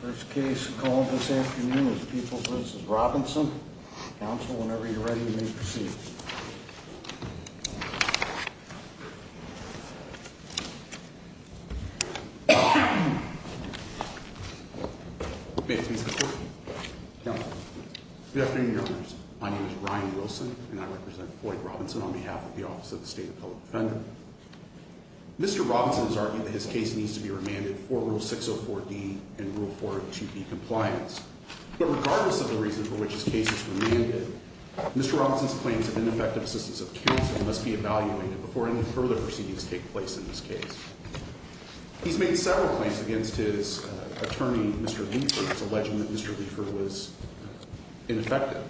First case called this afternoon is People v. Robinson. Counsel, whenever you're ready, you may proceed. Good afternoon, Your Honors. My name is Ryan Wilson, and I represent Floyd Robinson on behalf of the Office of the State Appellate Defender. Mr. Robinson has argued that his case needs to be remanded for Rule 604D and Rule 402B compliance. But regardless of the reason for which his case is remanded, Mr. Robinson's claims of ineffective assistance of counsel must be evaluated before any further proceedings take place in this case. He's made several claims against his attorney, Mr. Leifer, alleging that Mr. Leifer was ineffective.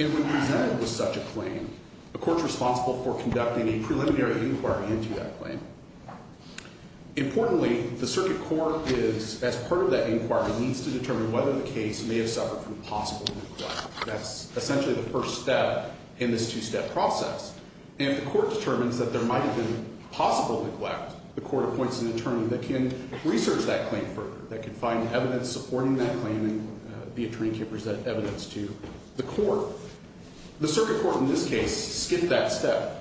And when presented with such a claim, the court's responsible for conducting a preliminary inquiry into that claim. Importantly, the circuit court is, as part of that inquiry, needs to determine whether the case may have suffered from possible neglect. That's essentially the first step in this two-step process. And if the court determines that there might have been possible neglect, the court appoints an attorney that can research that claim further, that can find evidence supporting that claim, and the attorney can present evidence to the court. The circuit court in this case skipped that step.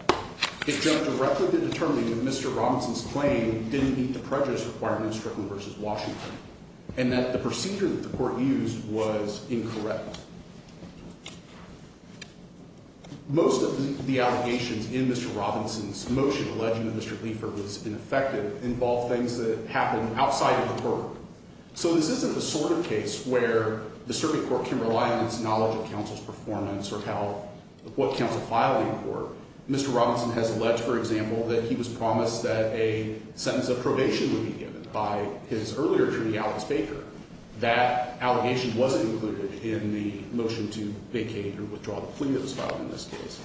It jumped directly to determining that Mr. Robinson's claim didn't meet the prejudice requirement of Strickland v. Washington, and that the procedure that the court used was incorrect. Most of the allegations in Mr. Robinson's motion alleging that Mr. Leifer was ineffective involve things that happened outside of the court. So this isn't the sort of case where the circuit court can rely on its knowledge of counsel's performance or what counsel filed in court. Mr. Robinson has alleged, for example, that he was promised that a sentence of probation would be given by his earlier attorney, Alex Baker. That allegation wasn't included in the motion to vacate or withdraw the plea that was filed in this case.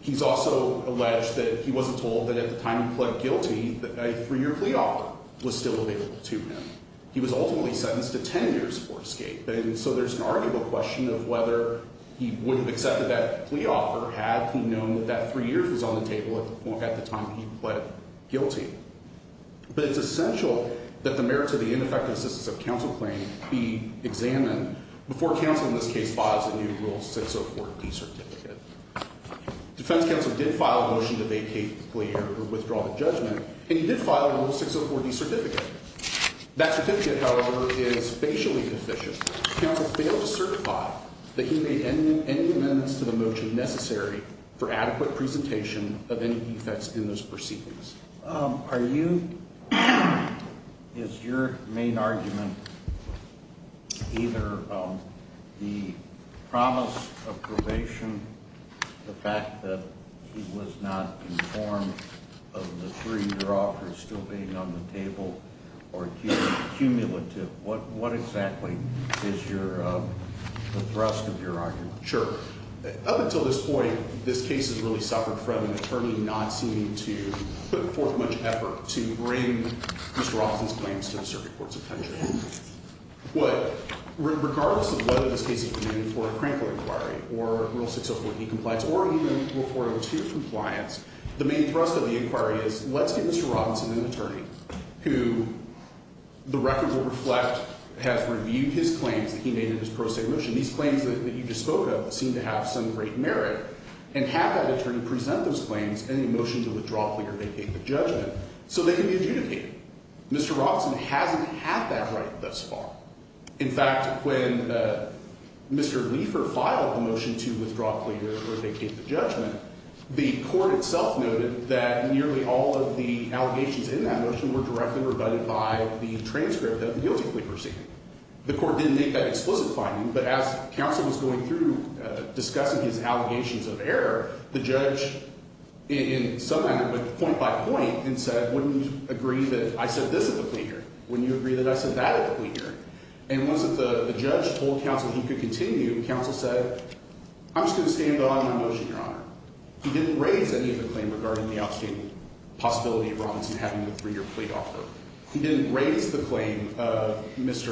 He's also alleged that he wasn't told that at the time he pled guilty that a three-year plea offer was still available to him. He was ultimately sentenced to 10 years for escape, and so there's an arguable question of whether he would have accepted that plea offer had he known that that three years was on the table at the time he pled guilty. But it's essential that the merits of the ineffective assistance of counsel claim be examined before counsel, in this case, files a new Rule 604D certificate. Defense counsel did file a motion to vacate the plea or withdraw the judgment, and he did file a Rule 604D certificate. That certificate, however, is facially deficient. Counsel failed to certify that he made any amendments to the motion necessary for adequate presentation of any defects in those proceedings. Are you... Is your main argument either the promise of probation, the fact that he was not informed of the three-year offer still being on the table, or cumulative? What exactly is the thrust of your argument? Sure. Up until this point, this case has really suffered from an attorney not seeming to put forth much effort to bring Mr. Robinson's claims to the circuit courts of country. But regardless of whether this case is intended for a Crankle inquiry or Rule 604D compliance or even Rule 402 compliance, the main thrust of the inquiry is, let's get Mr. Robinson, an attorney, who the record will reflect has reviewed his claims that he made in his pro se motion. These claims that you just spoke of seem to have some great merit, and have that attorney present those claims in the motion to withdraw, clear, or vacate the judgment so they can be adjudicated. Mr. Robinson hasn't had that right thus far. In fact, when Mr. Leifer filed the motion to withdraw, clear, or vacate the judgment, the court itself noted that nearly all of the allegations in that motion were directly rebutted by the transcript of the guilty plea proceeding. The court didn't make that explicit finding, but as counsel was going through discussing his allegations of error, the judge in some manner went point by point and said, wouldn't you agree that I said this at the plea hearing? Wouldn't you agree that I said that at the plea hearing? And once the judge told counsel he could continue, counsel said, I'm just going to stand on my motion, Your Honor. He didn't raise any of the claim regarding the outstanding possibility of Robinson having the three-year plea offer. He didn't raise the claim of Major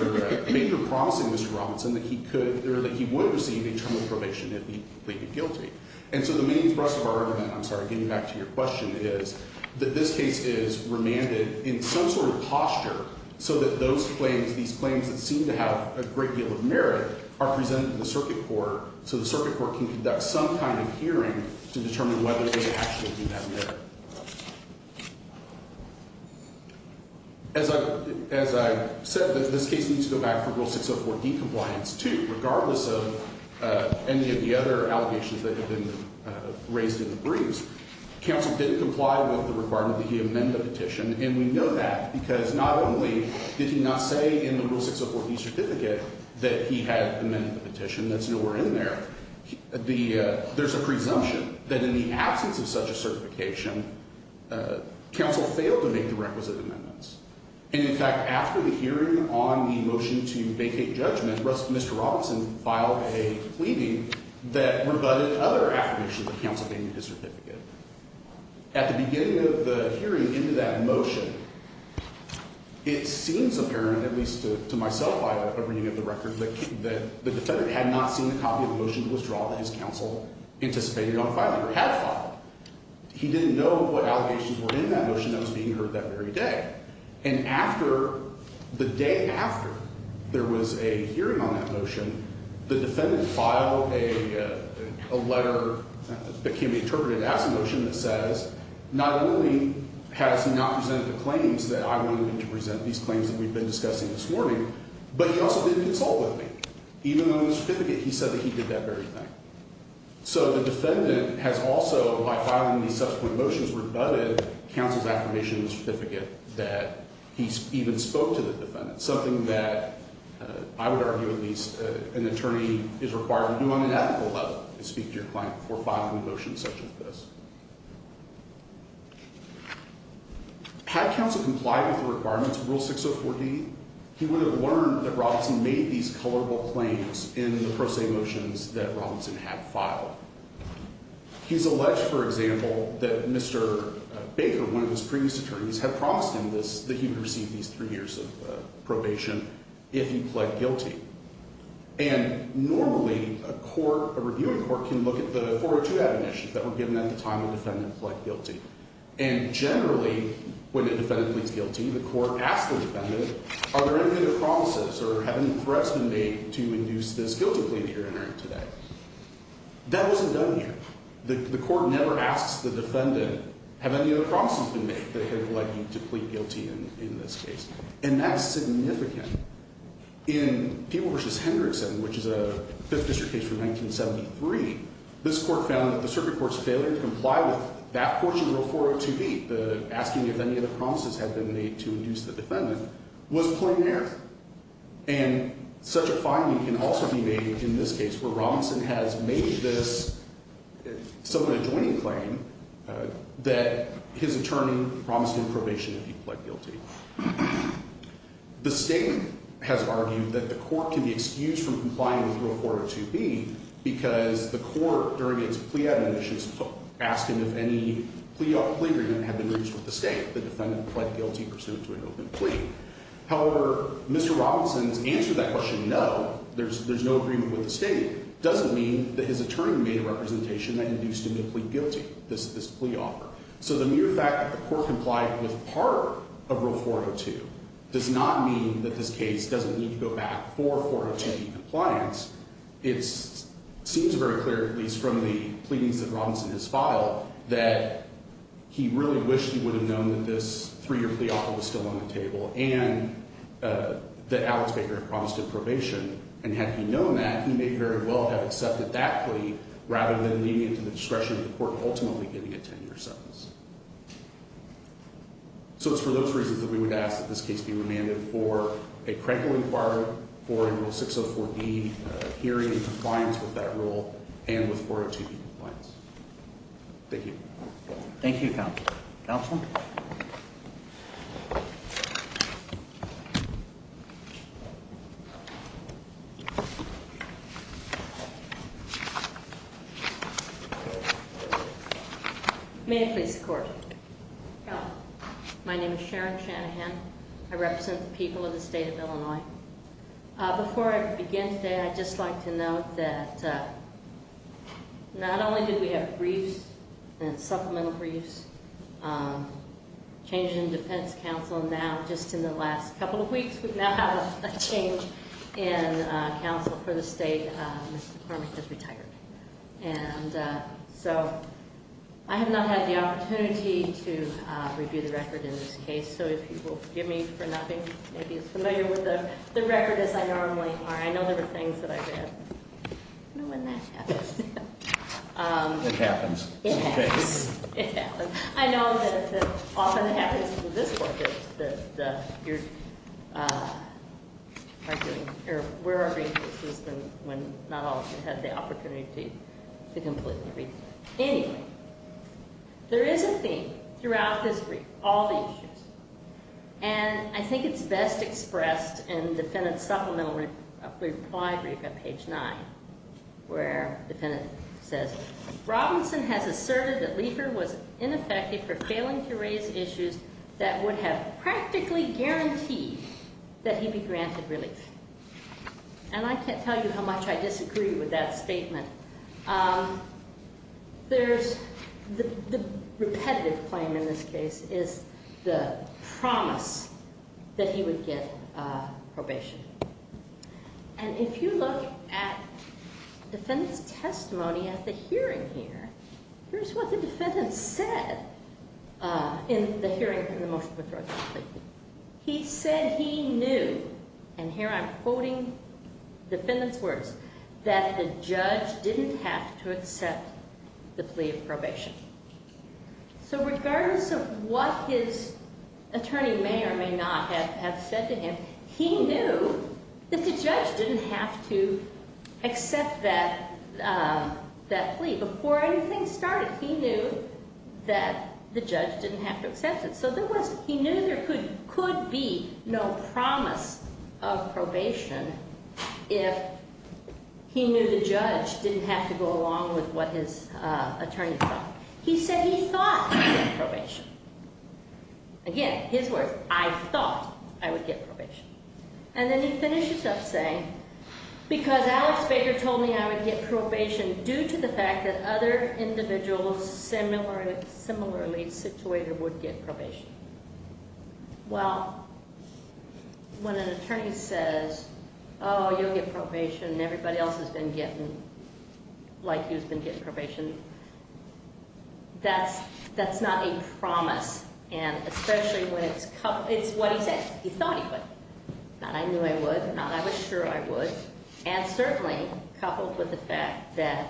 promising Mr. Robinson that he would receive a term of probation if he pleaded guilty. And so the meaning for us of our argument, I'm sorry, getting back to your question, is that this case is remanded in some sort of posture so that those claims, these claims that seem to have a great deal of merit are presented to the circuit court so the circuit court can conduct some kind of hearing to determine whether they actually do have merit. As I said, this case needs to go back for Rule 604D compliance, too, regardless of any of the other allegations that have been raised in the briefs. Counsel didn't comply with the requirement that he amend the petition, and we know that, because not only did he not say in the Rule 604D certificate that he had amended the petition, that's nowhere in there, there's a presumption that in the absence of such a certification, counsel failed to make the requisite amendments. And, in fact, after the hearing on the motion to vacate judgment, Mr. Robinson filed a pleading that rebutted other affirmations of counsel being in his certificate. At the beginning of the hearing into that motion, it seems apparent, at least to myself by a reading of the record, that the defendant had not seen a copy of the motion to withdraw that his counsel anticipated on filing or had filed. He didn't know what allegations were in that motion that was being heard that very day. And after, the day after there was a hearing on that motion, the defendant filed a letter that can be interpreted as a motion that says not only has he not presented the claims that I wanted him to present, these claims that we've been discussing this morning, but he also didn't consult with me, even though in the certificate he said that he did that very thing. So the defendant has also, by filing these subsequent motions, rebutted counsel's affirmation in the certificate that he even spoke to the defendant, something that I would argue at least an attorney is required to do on an ethical level to speak to your client before filing a motion such as this. Had counsel complied with the requirements of Rule 604D, he would have learned that Robinson made these colorable claims in the pro se motions that Robinson had filed. He's alleged, for example, that Mr. Baker, one of his previous attorneys, had promised him that he would receive these three years of probation if he pled guilty. And normally a court, a reviewing court, can look at the 402 admonitions that were given at the time the defendant pled guilty. And generally, when a defendant pleads guilty, the court asks the defendant, are there any other promises or have any threats been made to induce this guilty plea that you're entering today? That wasn't done here. The court never asks the defendant, have any other promises been made that have led you to plead guilty in this case? And that's significant. In Peeble v. Hendrickson, which is a Fifth District case from 1973, this court found that the circuit court's failure to comply with that portion of Rule 402B, the asking if any other promises had been made to induce the defendant, was plenary. And such a finding can also be made in this case, where Robinson has made this somewhat adjoining claim that his attorney promised him probation if he pled guilty. The state has argued that the court can be excused from complying with Rule 402B because the court, during its plea admonitions, asked him if any plea agreement had been reached with the state. The defendant pled guilty pursuant to an open plea. However, Mr. Robinson's answer to that question, no, there's no agreement with the state, doesn't mean that his attorney made a representation that induced him to plead guilty, this plea offer. So the mere fact that the court complied with part of Rule 402 does not mean that this case doesn't need to go back for 402B compliance. It seems very clear, at least from the pleadings that Robinson has filed, that he really wished he would have known that this three-year plea offer was still on the table and that Alex Baker had promised him probation. And had he known that, he may very well have accepted that plea rather than leaving it to the discretion of the court ultimately giving it 10-year sentence. So it's for those reasons that we would ask that this case be remanded for a credible inquiry for a Rule 604B hearing in compliance with that rule and with 402B compliance. Thank you. Thank you, Counselor. Counselor? May I please the court? Go ahead. My name is Sharon Shanahan. I represent the people of the state of Illinois. Before I begin today, I'd just like to note that not only did we have briefs and supplemental briefs, changes in defense counsel now, just in the last couple of weeks, we now have a change in counsel for the state. Mr. Karmick has retired. And so I have not had the opportunity to review the record in this case. So if you will forgive me for not being as familiar with the record as I normally are, I know there are things that I've had. I don't know when that happens. It happens. It happens. It happens. I know that it often happens with this court that you're arguing when not all of you have the opportunity to completely read. Anyway, there is a theme throughout this brief, all the issues. And I think it's best expressed in the defendant's supplemental reply brief at page 9, where the defendant says, Robinson has asserted that Liefer was ineffective for failing to raise issues that would have practically guaranteed that he be granted relief. And I can't tell you how much I disagree with that statement. There's the repetitive claim in this case is the promise that he would get probation. And if you look at the defendant's testimony at the hearing here, here's what the defendant said in the hearing, in the motion of withdrawal. He said he knew, and here I'm quoting the defendant's words, that the judge didn't have to accept the plea of probation. So regardless of what his attorney may or may not have said to him, he knew that the judge didn't have to accept that plea. Before anything started, he knew that the judge didn't have to accept it. So he knew there could be no promise of probation if he knew the judge didn't have to go along with what his attorney thought. He said he thought he would get probation. Again, his words, I thought I would get probation. And then he finishes up saying, because Alex Baker told me I would get probation due to the fact that other individuals similarly situated would get probation. Well, when an attorney says, oh, you'll get probation, and everybody else has been getting like he's been getting probation, that's not a promise. And especially when it's what he said, he thought he would. Not I knew I would, not I was sure I would. And certainly coupled with the fact that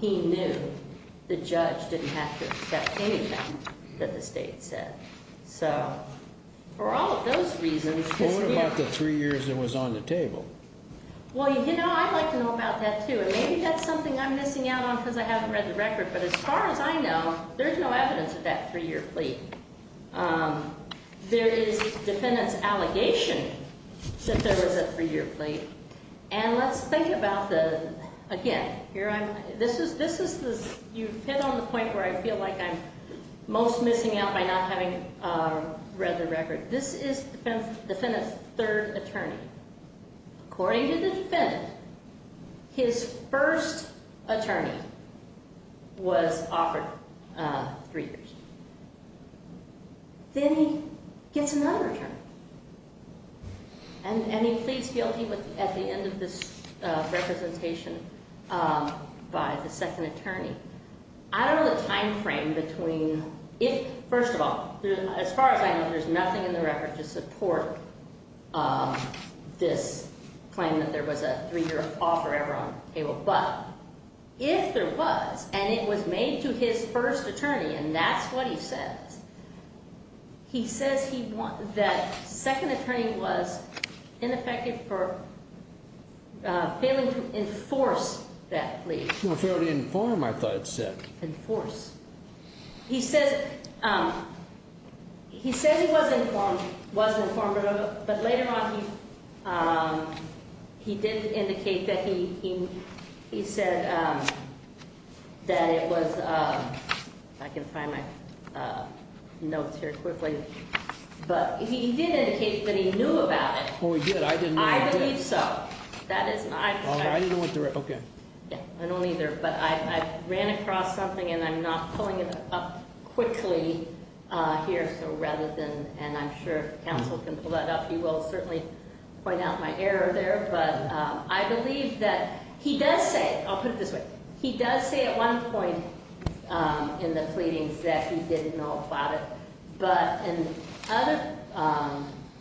he knew the judge didn't have to accept anything that the state said. So for all of those reasons, What about the three years that was on the table? Well, you know, I'd like to know about that, too. And maybe that's something I'm missing out on because I haven't read the record. But as far as I know, there's no evidence of that three year plea. There is defendant's allegation that there was a three year plea. And let's think about the, again, this is, you've hit on the point where I feel like I'm most missing out by not having read the record. This is the defendant's third attorney. According to the defendant, his first attorney was offered three years. Then he gets another attorney. And he pleads guilty at the end of this representation by the second attorney. I don't know the timeframe between, if, first of all, as far as I know, there's nothing in the record to support this claim that there was a three year offer ever on the table. But if there was, and it was made to his first attorney, and that's what he says, he says that second attorney was ineffective for failing to enforce that plea. Failing to inform, I thought it said. Enforce. He says he was informed, but later on he did indicate that he said that it was, I can find my notes here quickly. But he did indicate that he knew about it. I believe so. I didn't go through it. I don't either, but I ran across something and I'm not pulling it up quickly here. And I'm sure counsel can pull that up. He will certainly point out my error there, but I believe that he does say, I'll put it this way. He does say at one point in the pleadings that he didn't know about it. But at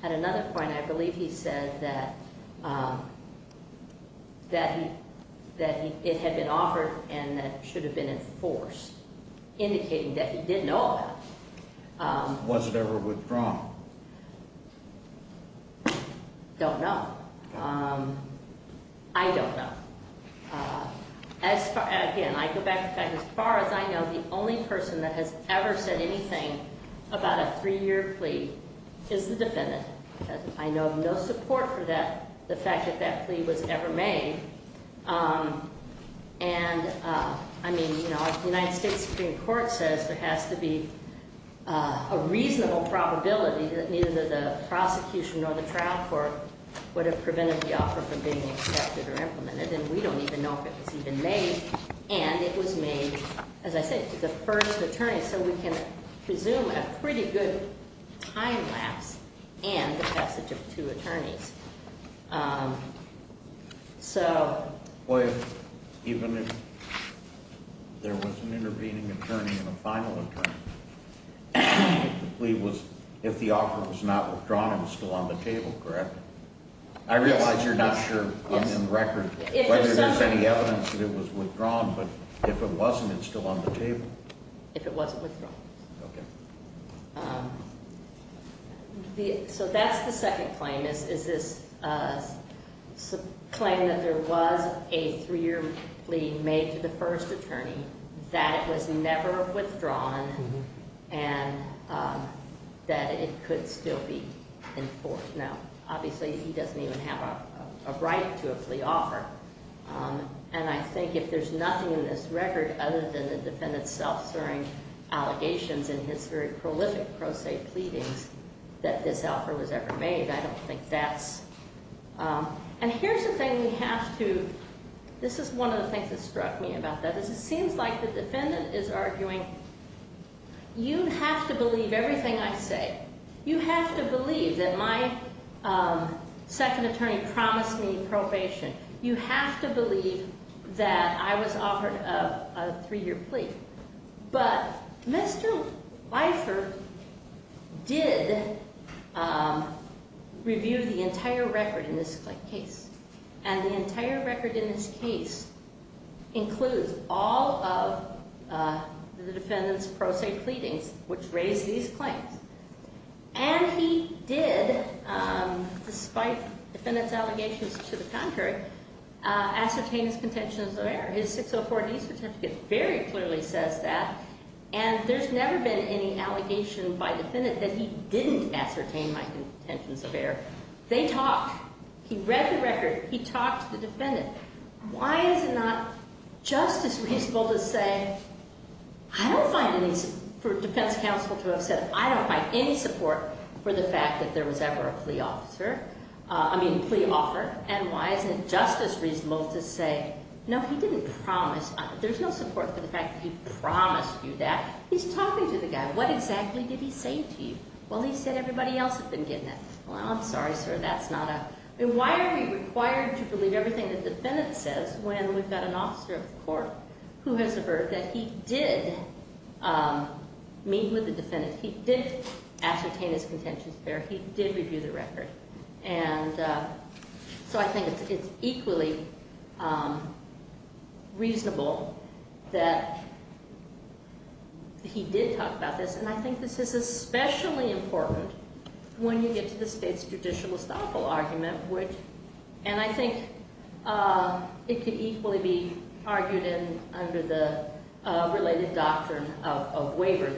another point, I believe he said that it had been offered and that it should have been enforced. Indicating that he did know about it. Was it ever withdrawn? Don't know. I don't know. Again, I go back to the fact, as far as I know, the only person that has ever said anything about a three-year plea is the defendant. I know of no support for that, the fact that that plea was ever made. And I mean, you know, if the United States Supreme Court says there has to be a reasonable probability that neither the prosecution nor the trial court would have prevented the offer from being accepted or implemented and we don't even know if it was even made. And it was made, as I said, to the first attorney. So we can presume a pretty good time lapse and the passage of two attorneys. So... Even if there was an intervening attorney and a final attorney, the plea was, if the offer was not withdrawn, it was still on the table, correct? I realize you're not sure on the record. If there's any evidence that it was withdrawn, but if it wasn't, it's still on the table. If it wasn't withdrawn. Okay. So that's the second claim, is this claim that there was a three-year plea made to the first attorney, that it was never withdrawn, and that it could still be enforced. Now, obviously he doesn't even have a right to a plea offer. And I think if there's nothing in this record other than the defendant's self-asserting allegations and his very prolific pro se pleadings that this offer was ever made, I don't think that's... And here's the thing we have to... This is one of the things that struck me about that, is it seems like the defendant is arguing, you have to believe everything I say. You have to believe that my second attorney promised me probation. You have to believe that I was offered a three-year plea. But Mr. Leifer did review the entire record in this case. And the entire record in this case includes all of the defendant's pro se pleadings, which raise these claims. And he did, despite defendant's allegations to the contrary, ascertain his contentions of error. His 604D certificate very clearly says that. And there's never been any allegation by defendant that he didn't ascertain my contentions of error. They talked. He read the record. He talked to the defendant. Why is it not just as reasonable to say, I don't find any, for defense counsel to have said, I don't find any support for the fact that there was ever a plea offer. And why isn't it just as reasonable to say, no, he didn't promise. There's no support for the fact that he promised you that. He's talking to the guy. What exactly did he say to you? Well, he said everybody else had been getting that. Well, I'm sorry, sir, that's not a... Why are we required to believe everything that the defendant says when we've got an officer of the court who has a verdict that he did meet with the defendant. He did ascertain his contentions of error. He did review the record. And so I think it's equally reasonable that he did talk about this. And I think this is especially important when you get to the state's judicial estoppel argument, which, and I think it could equally be argued in under the related doctrine of waiver,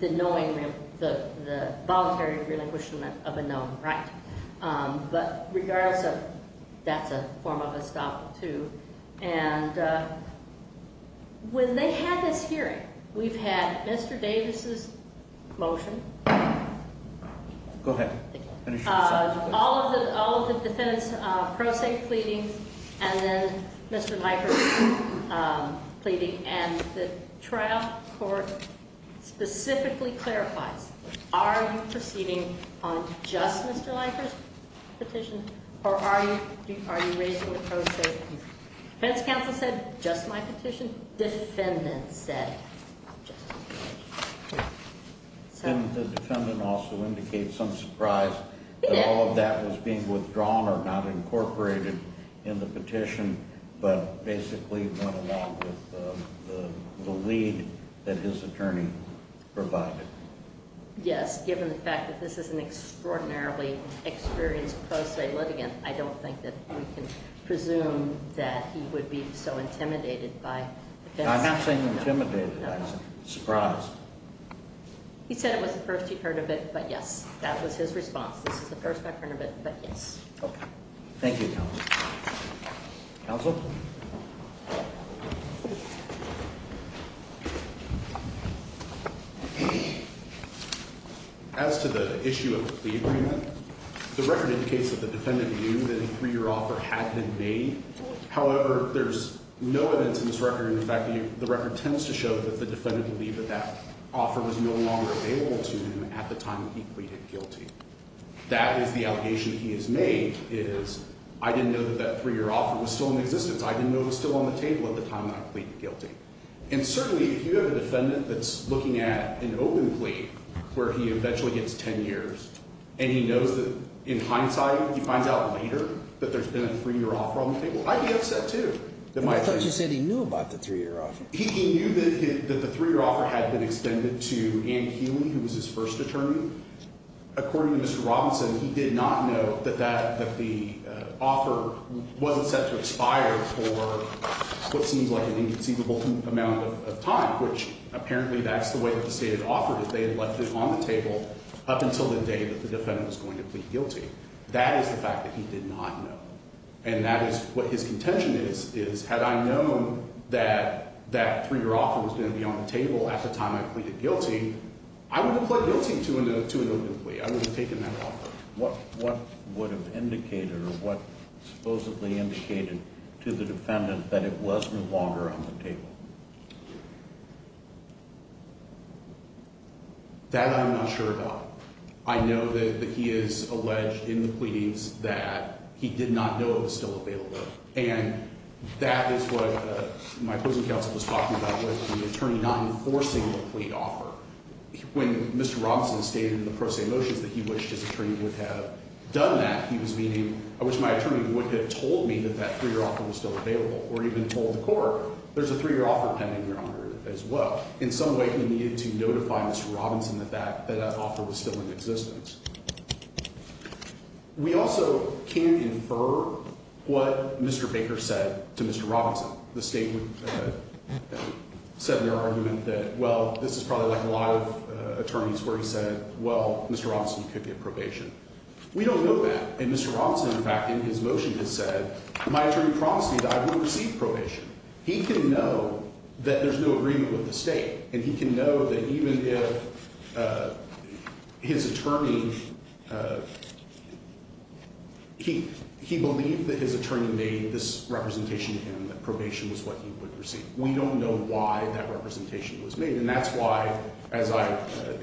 the knowing the voluntary relinquishment of a known right. But regardless of, that's a form of estoppel too. And when they had this hearing, we've had Mr. Davis's motion. Go ahead. All of the defendant's pro se pleading, and then Mr. Leifert's pleading. And the trial court specifically clarifies, are you proceeding on just Mr. Leifert's petition, or are you raising the pro se plea? Defense counsel said, just my petition. Defendant said, just my petition. And the defendant also indicates some surprise that all of that was being withdrawn or not incorporated in the petition, but basically went along with the lead that his attorney provided. Yes, given the fact that this is an extraordinarily experienced pro se litigant, I don't think that we can presume that he would be so intimidated by defense counsel. I'm not saying intimidated. I'm surprised. He said it was the first he'd heard of it, but yes, that was his response. This is the first I've heard of it, but yes. Thank you, counsel. Counsel? As to the issue of the agreement, the record indicates that the defendant knew that a three-year offer had been made. However, there's no evidence in this record. In fact, the record tends to show that the defendant believed that that offer was no longer available to him at the time that he pleaded guilty. That is the allegation he has made, is I didn't know that that three-year offer was still in existence. I didn't know it was still on the table at the time that I pleaded guilty. And certainly, if you have a defendant that's looking at an open plea where he eventually gets 10 years, and he knows that in hindsight, he finds out later that there's been a three-year offer on the table, I'd be upset, too. I thought you said he knew about the three-year offer. He knew that the three-year offer had been extended to Ann Healy, who was his first attorney. According to Mr. Robinson, he did not know that the offer wasn't set to expire for what seems like an inconceivable amount of time, which apparently that's the way that the state had offered it. They had left it on the table up until the day that the defendant was going to plead guilty. That is the fact that he did not know. And that is what his contention is, is had I known that that three-year offer was going to be on the table at the time I pleaded guilty, I would have pled guilty to an open plea. I would have taken that offer. What would have indicated or what supposedly indicated to the defendant that it was no longer on the table? That I'm not sure about. I know that he is alleged in the pleadings that he did not know it was still available. And that is what my closing counsel was talking about with the attorney not enforcing the plea offer. When Mr. Robinson stated in the pro se motions that he wished his attorney would have done that, he was meaning, I wish my attorney would have told me that that three-year offer was still available, or even told the court, there's a three-year offer pending, Your Honor, as well. In some way, he needed to notify Mr. Robinson that that offer was still in existence. We also can't infer what Mr. Baker said to Mr. Robinson. The state would set their argument that, well, this is probably like a lot of attorneys where he said, well, Mr. Robinson could get probation. We don't know that. And Mr. Robinson, in fact, in his motion has said, my attorney promised me that I would receive probation. He can know that there's no agreement with the state. And he can know that even if his attorney, he believed that his attorney made this representation to him that probation was what he would receive. We don't know why that representation was made. And that's why, as I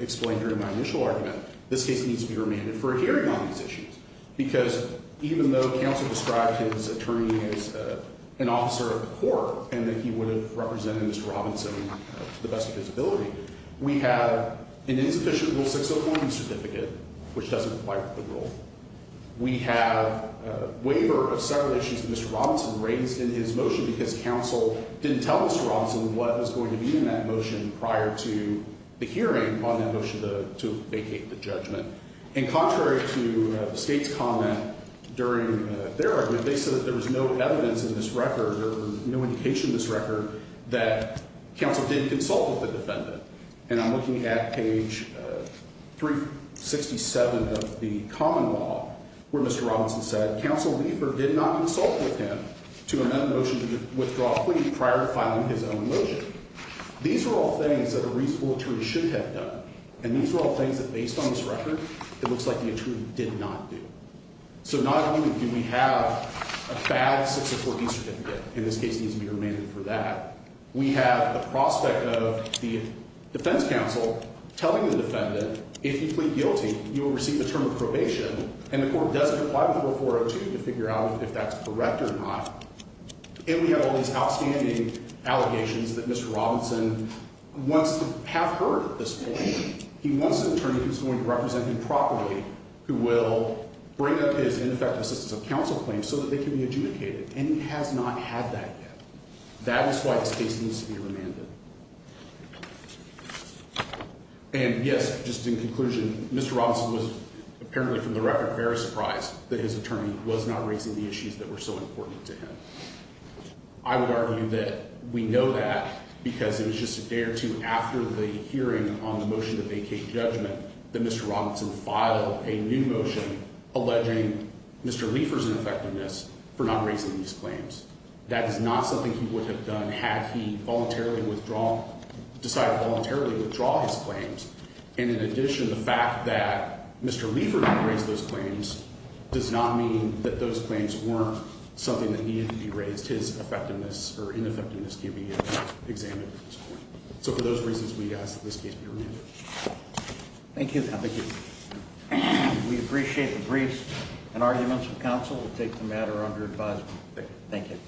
explained during my initial argument, this case needs to be remanded for a hearing on these issues. Because even though counsel described his attorney as an officer of the court and that he would have represented Mr. Robinson to the best of his ability, we have an insufficient Rule 601 certificate, which doesn't apply to the rule. We have a waiver of several issues that Mr. Robinson raised in his motion because counsel didn't tell Mr. Robinson what was going to be in that motion prior to the hearing on that motion to vacate the judgment. And contrary to the state's comment during their argument, they said that there was no evidence in this record or no indication in this record that counsel didn't consult with the defendant. And I'm looking at page 367 of the common law where Mr. Robinson said, counsel Liefer did not consult with him to amend the motion to withdraw a plea prior to filing his own motion. These are all things that a reasonable attorney should have done. And these are all things that, based on this record, it looks like the attorney did not do. So not only do we have a bad 604B certificate, in this case it needs to be remanded for that, we have the prospect of the defense counsel telling the defendant, if you plead guilty, you will receive a term of probation, and the court doesn't comply with Rule 402 to figure out if that's correct or not. And we have all these outstanding allegations that Mr. Robinson wants to have heard at this point. He wants an attorney who's going to represent him properly, who will bring up his ineffective assistance of counsel claims so that they can be adjudicated. And he has not had that yet. That is why this case needs to be remanded. And, yes, just in conclusion, Mr. Robinson was apparently, from the record, very surprised that his attorney was not raising the issues that were so important to him. I would argue that we know that because it was just a day or two after the hearing on the motion to vacate judgment that Mr. Robinson filed a new motion alleging Mr. Leifer's ineffectiveness for not raising these claims. That is not something he would have done had he voluntarily withdrawn, decided to voluntarily withdraw his claims. And in addition, the fact that Mr. Leifer didn't raise those claims does not mean that those claims weren't something that needed to be raised. His effectiveness or ineffectiveness can't be examined at this point. So for those reasons, we ask that this case be remanded. Thank you. We appreciate the briefs and arguments of counsel. We'll take the matter under advisement. Thank you.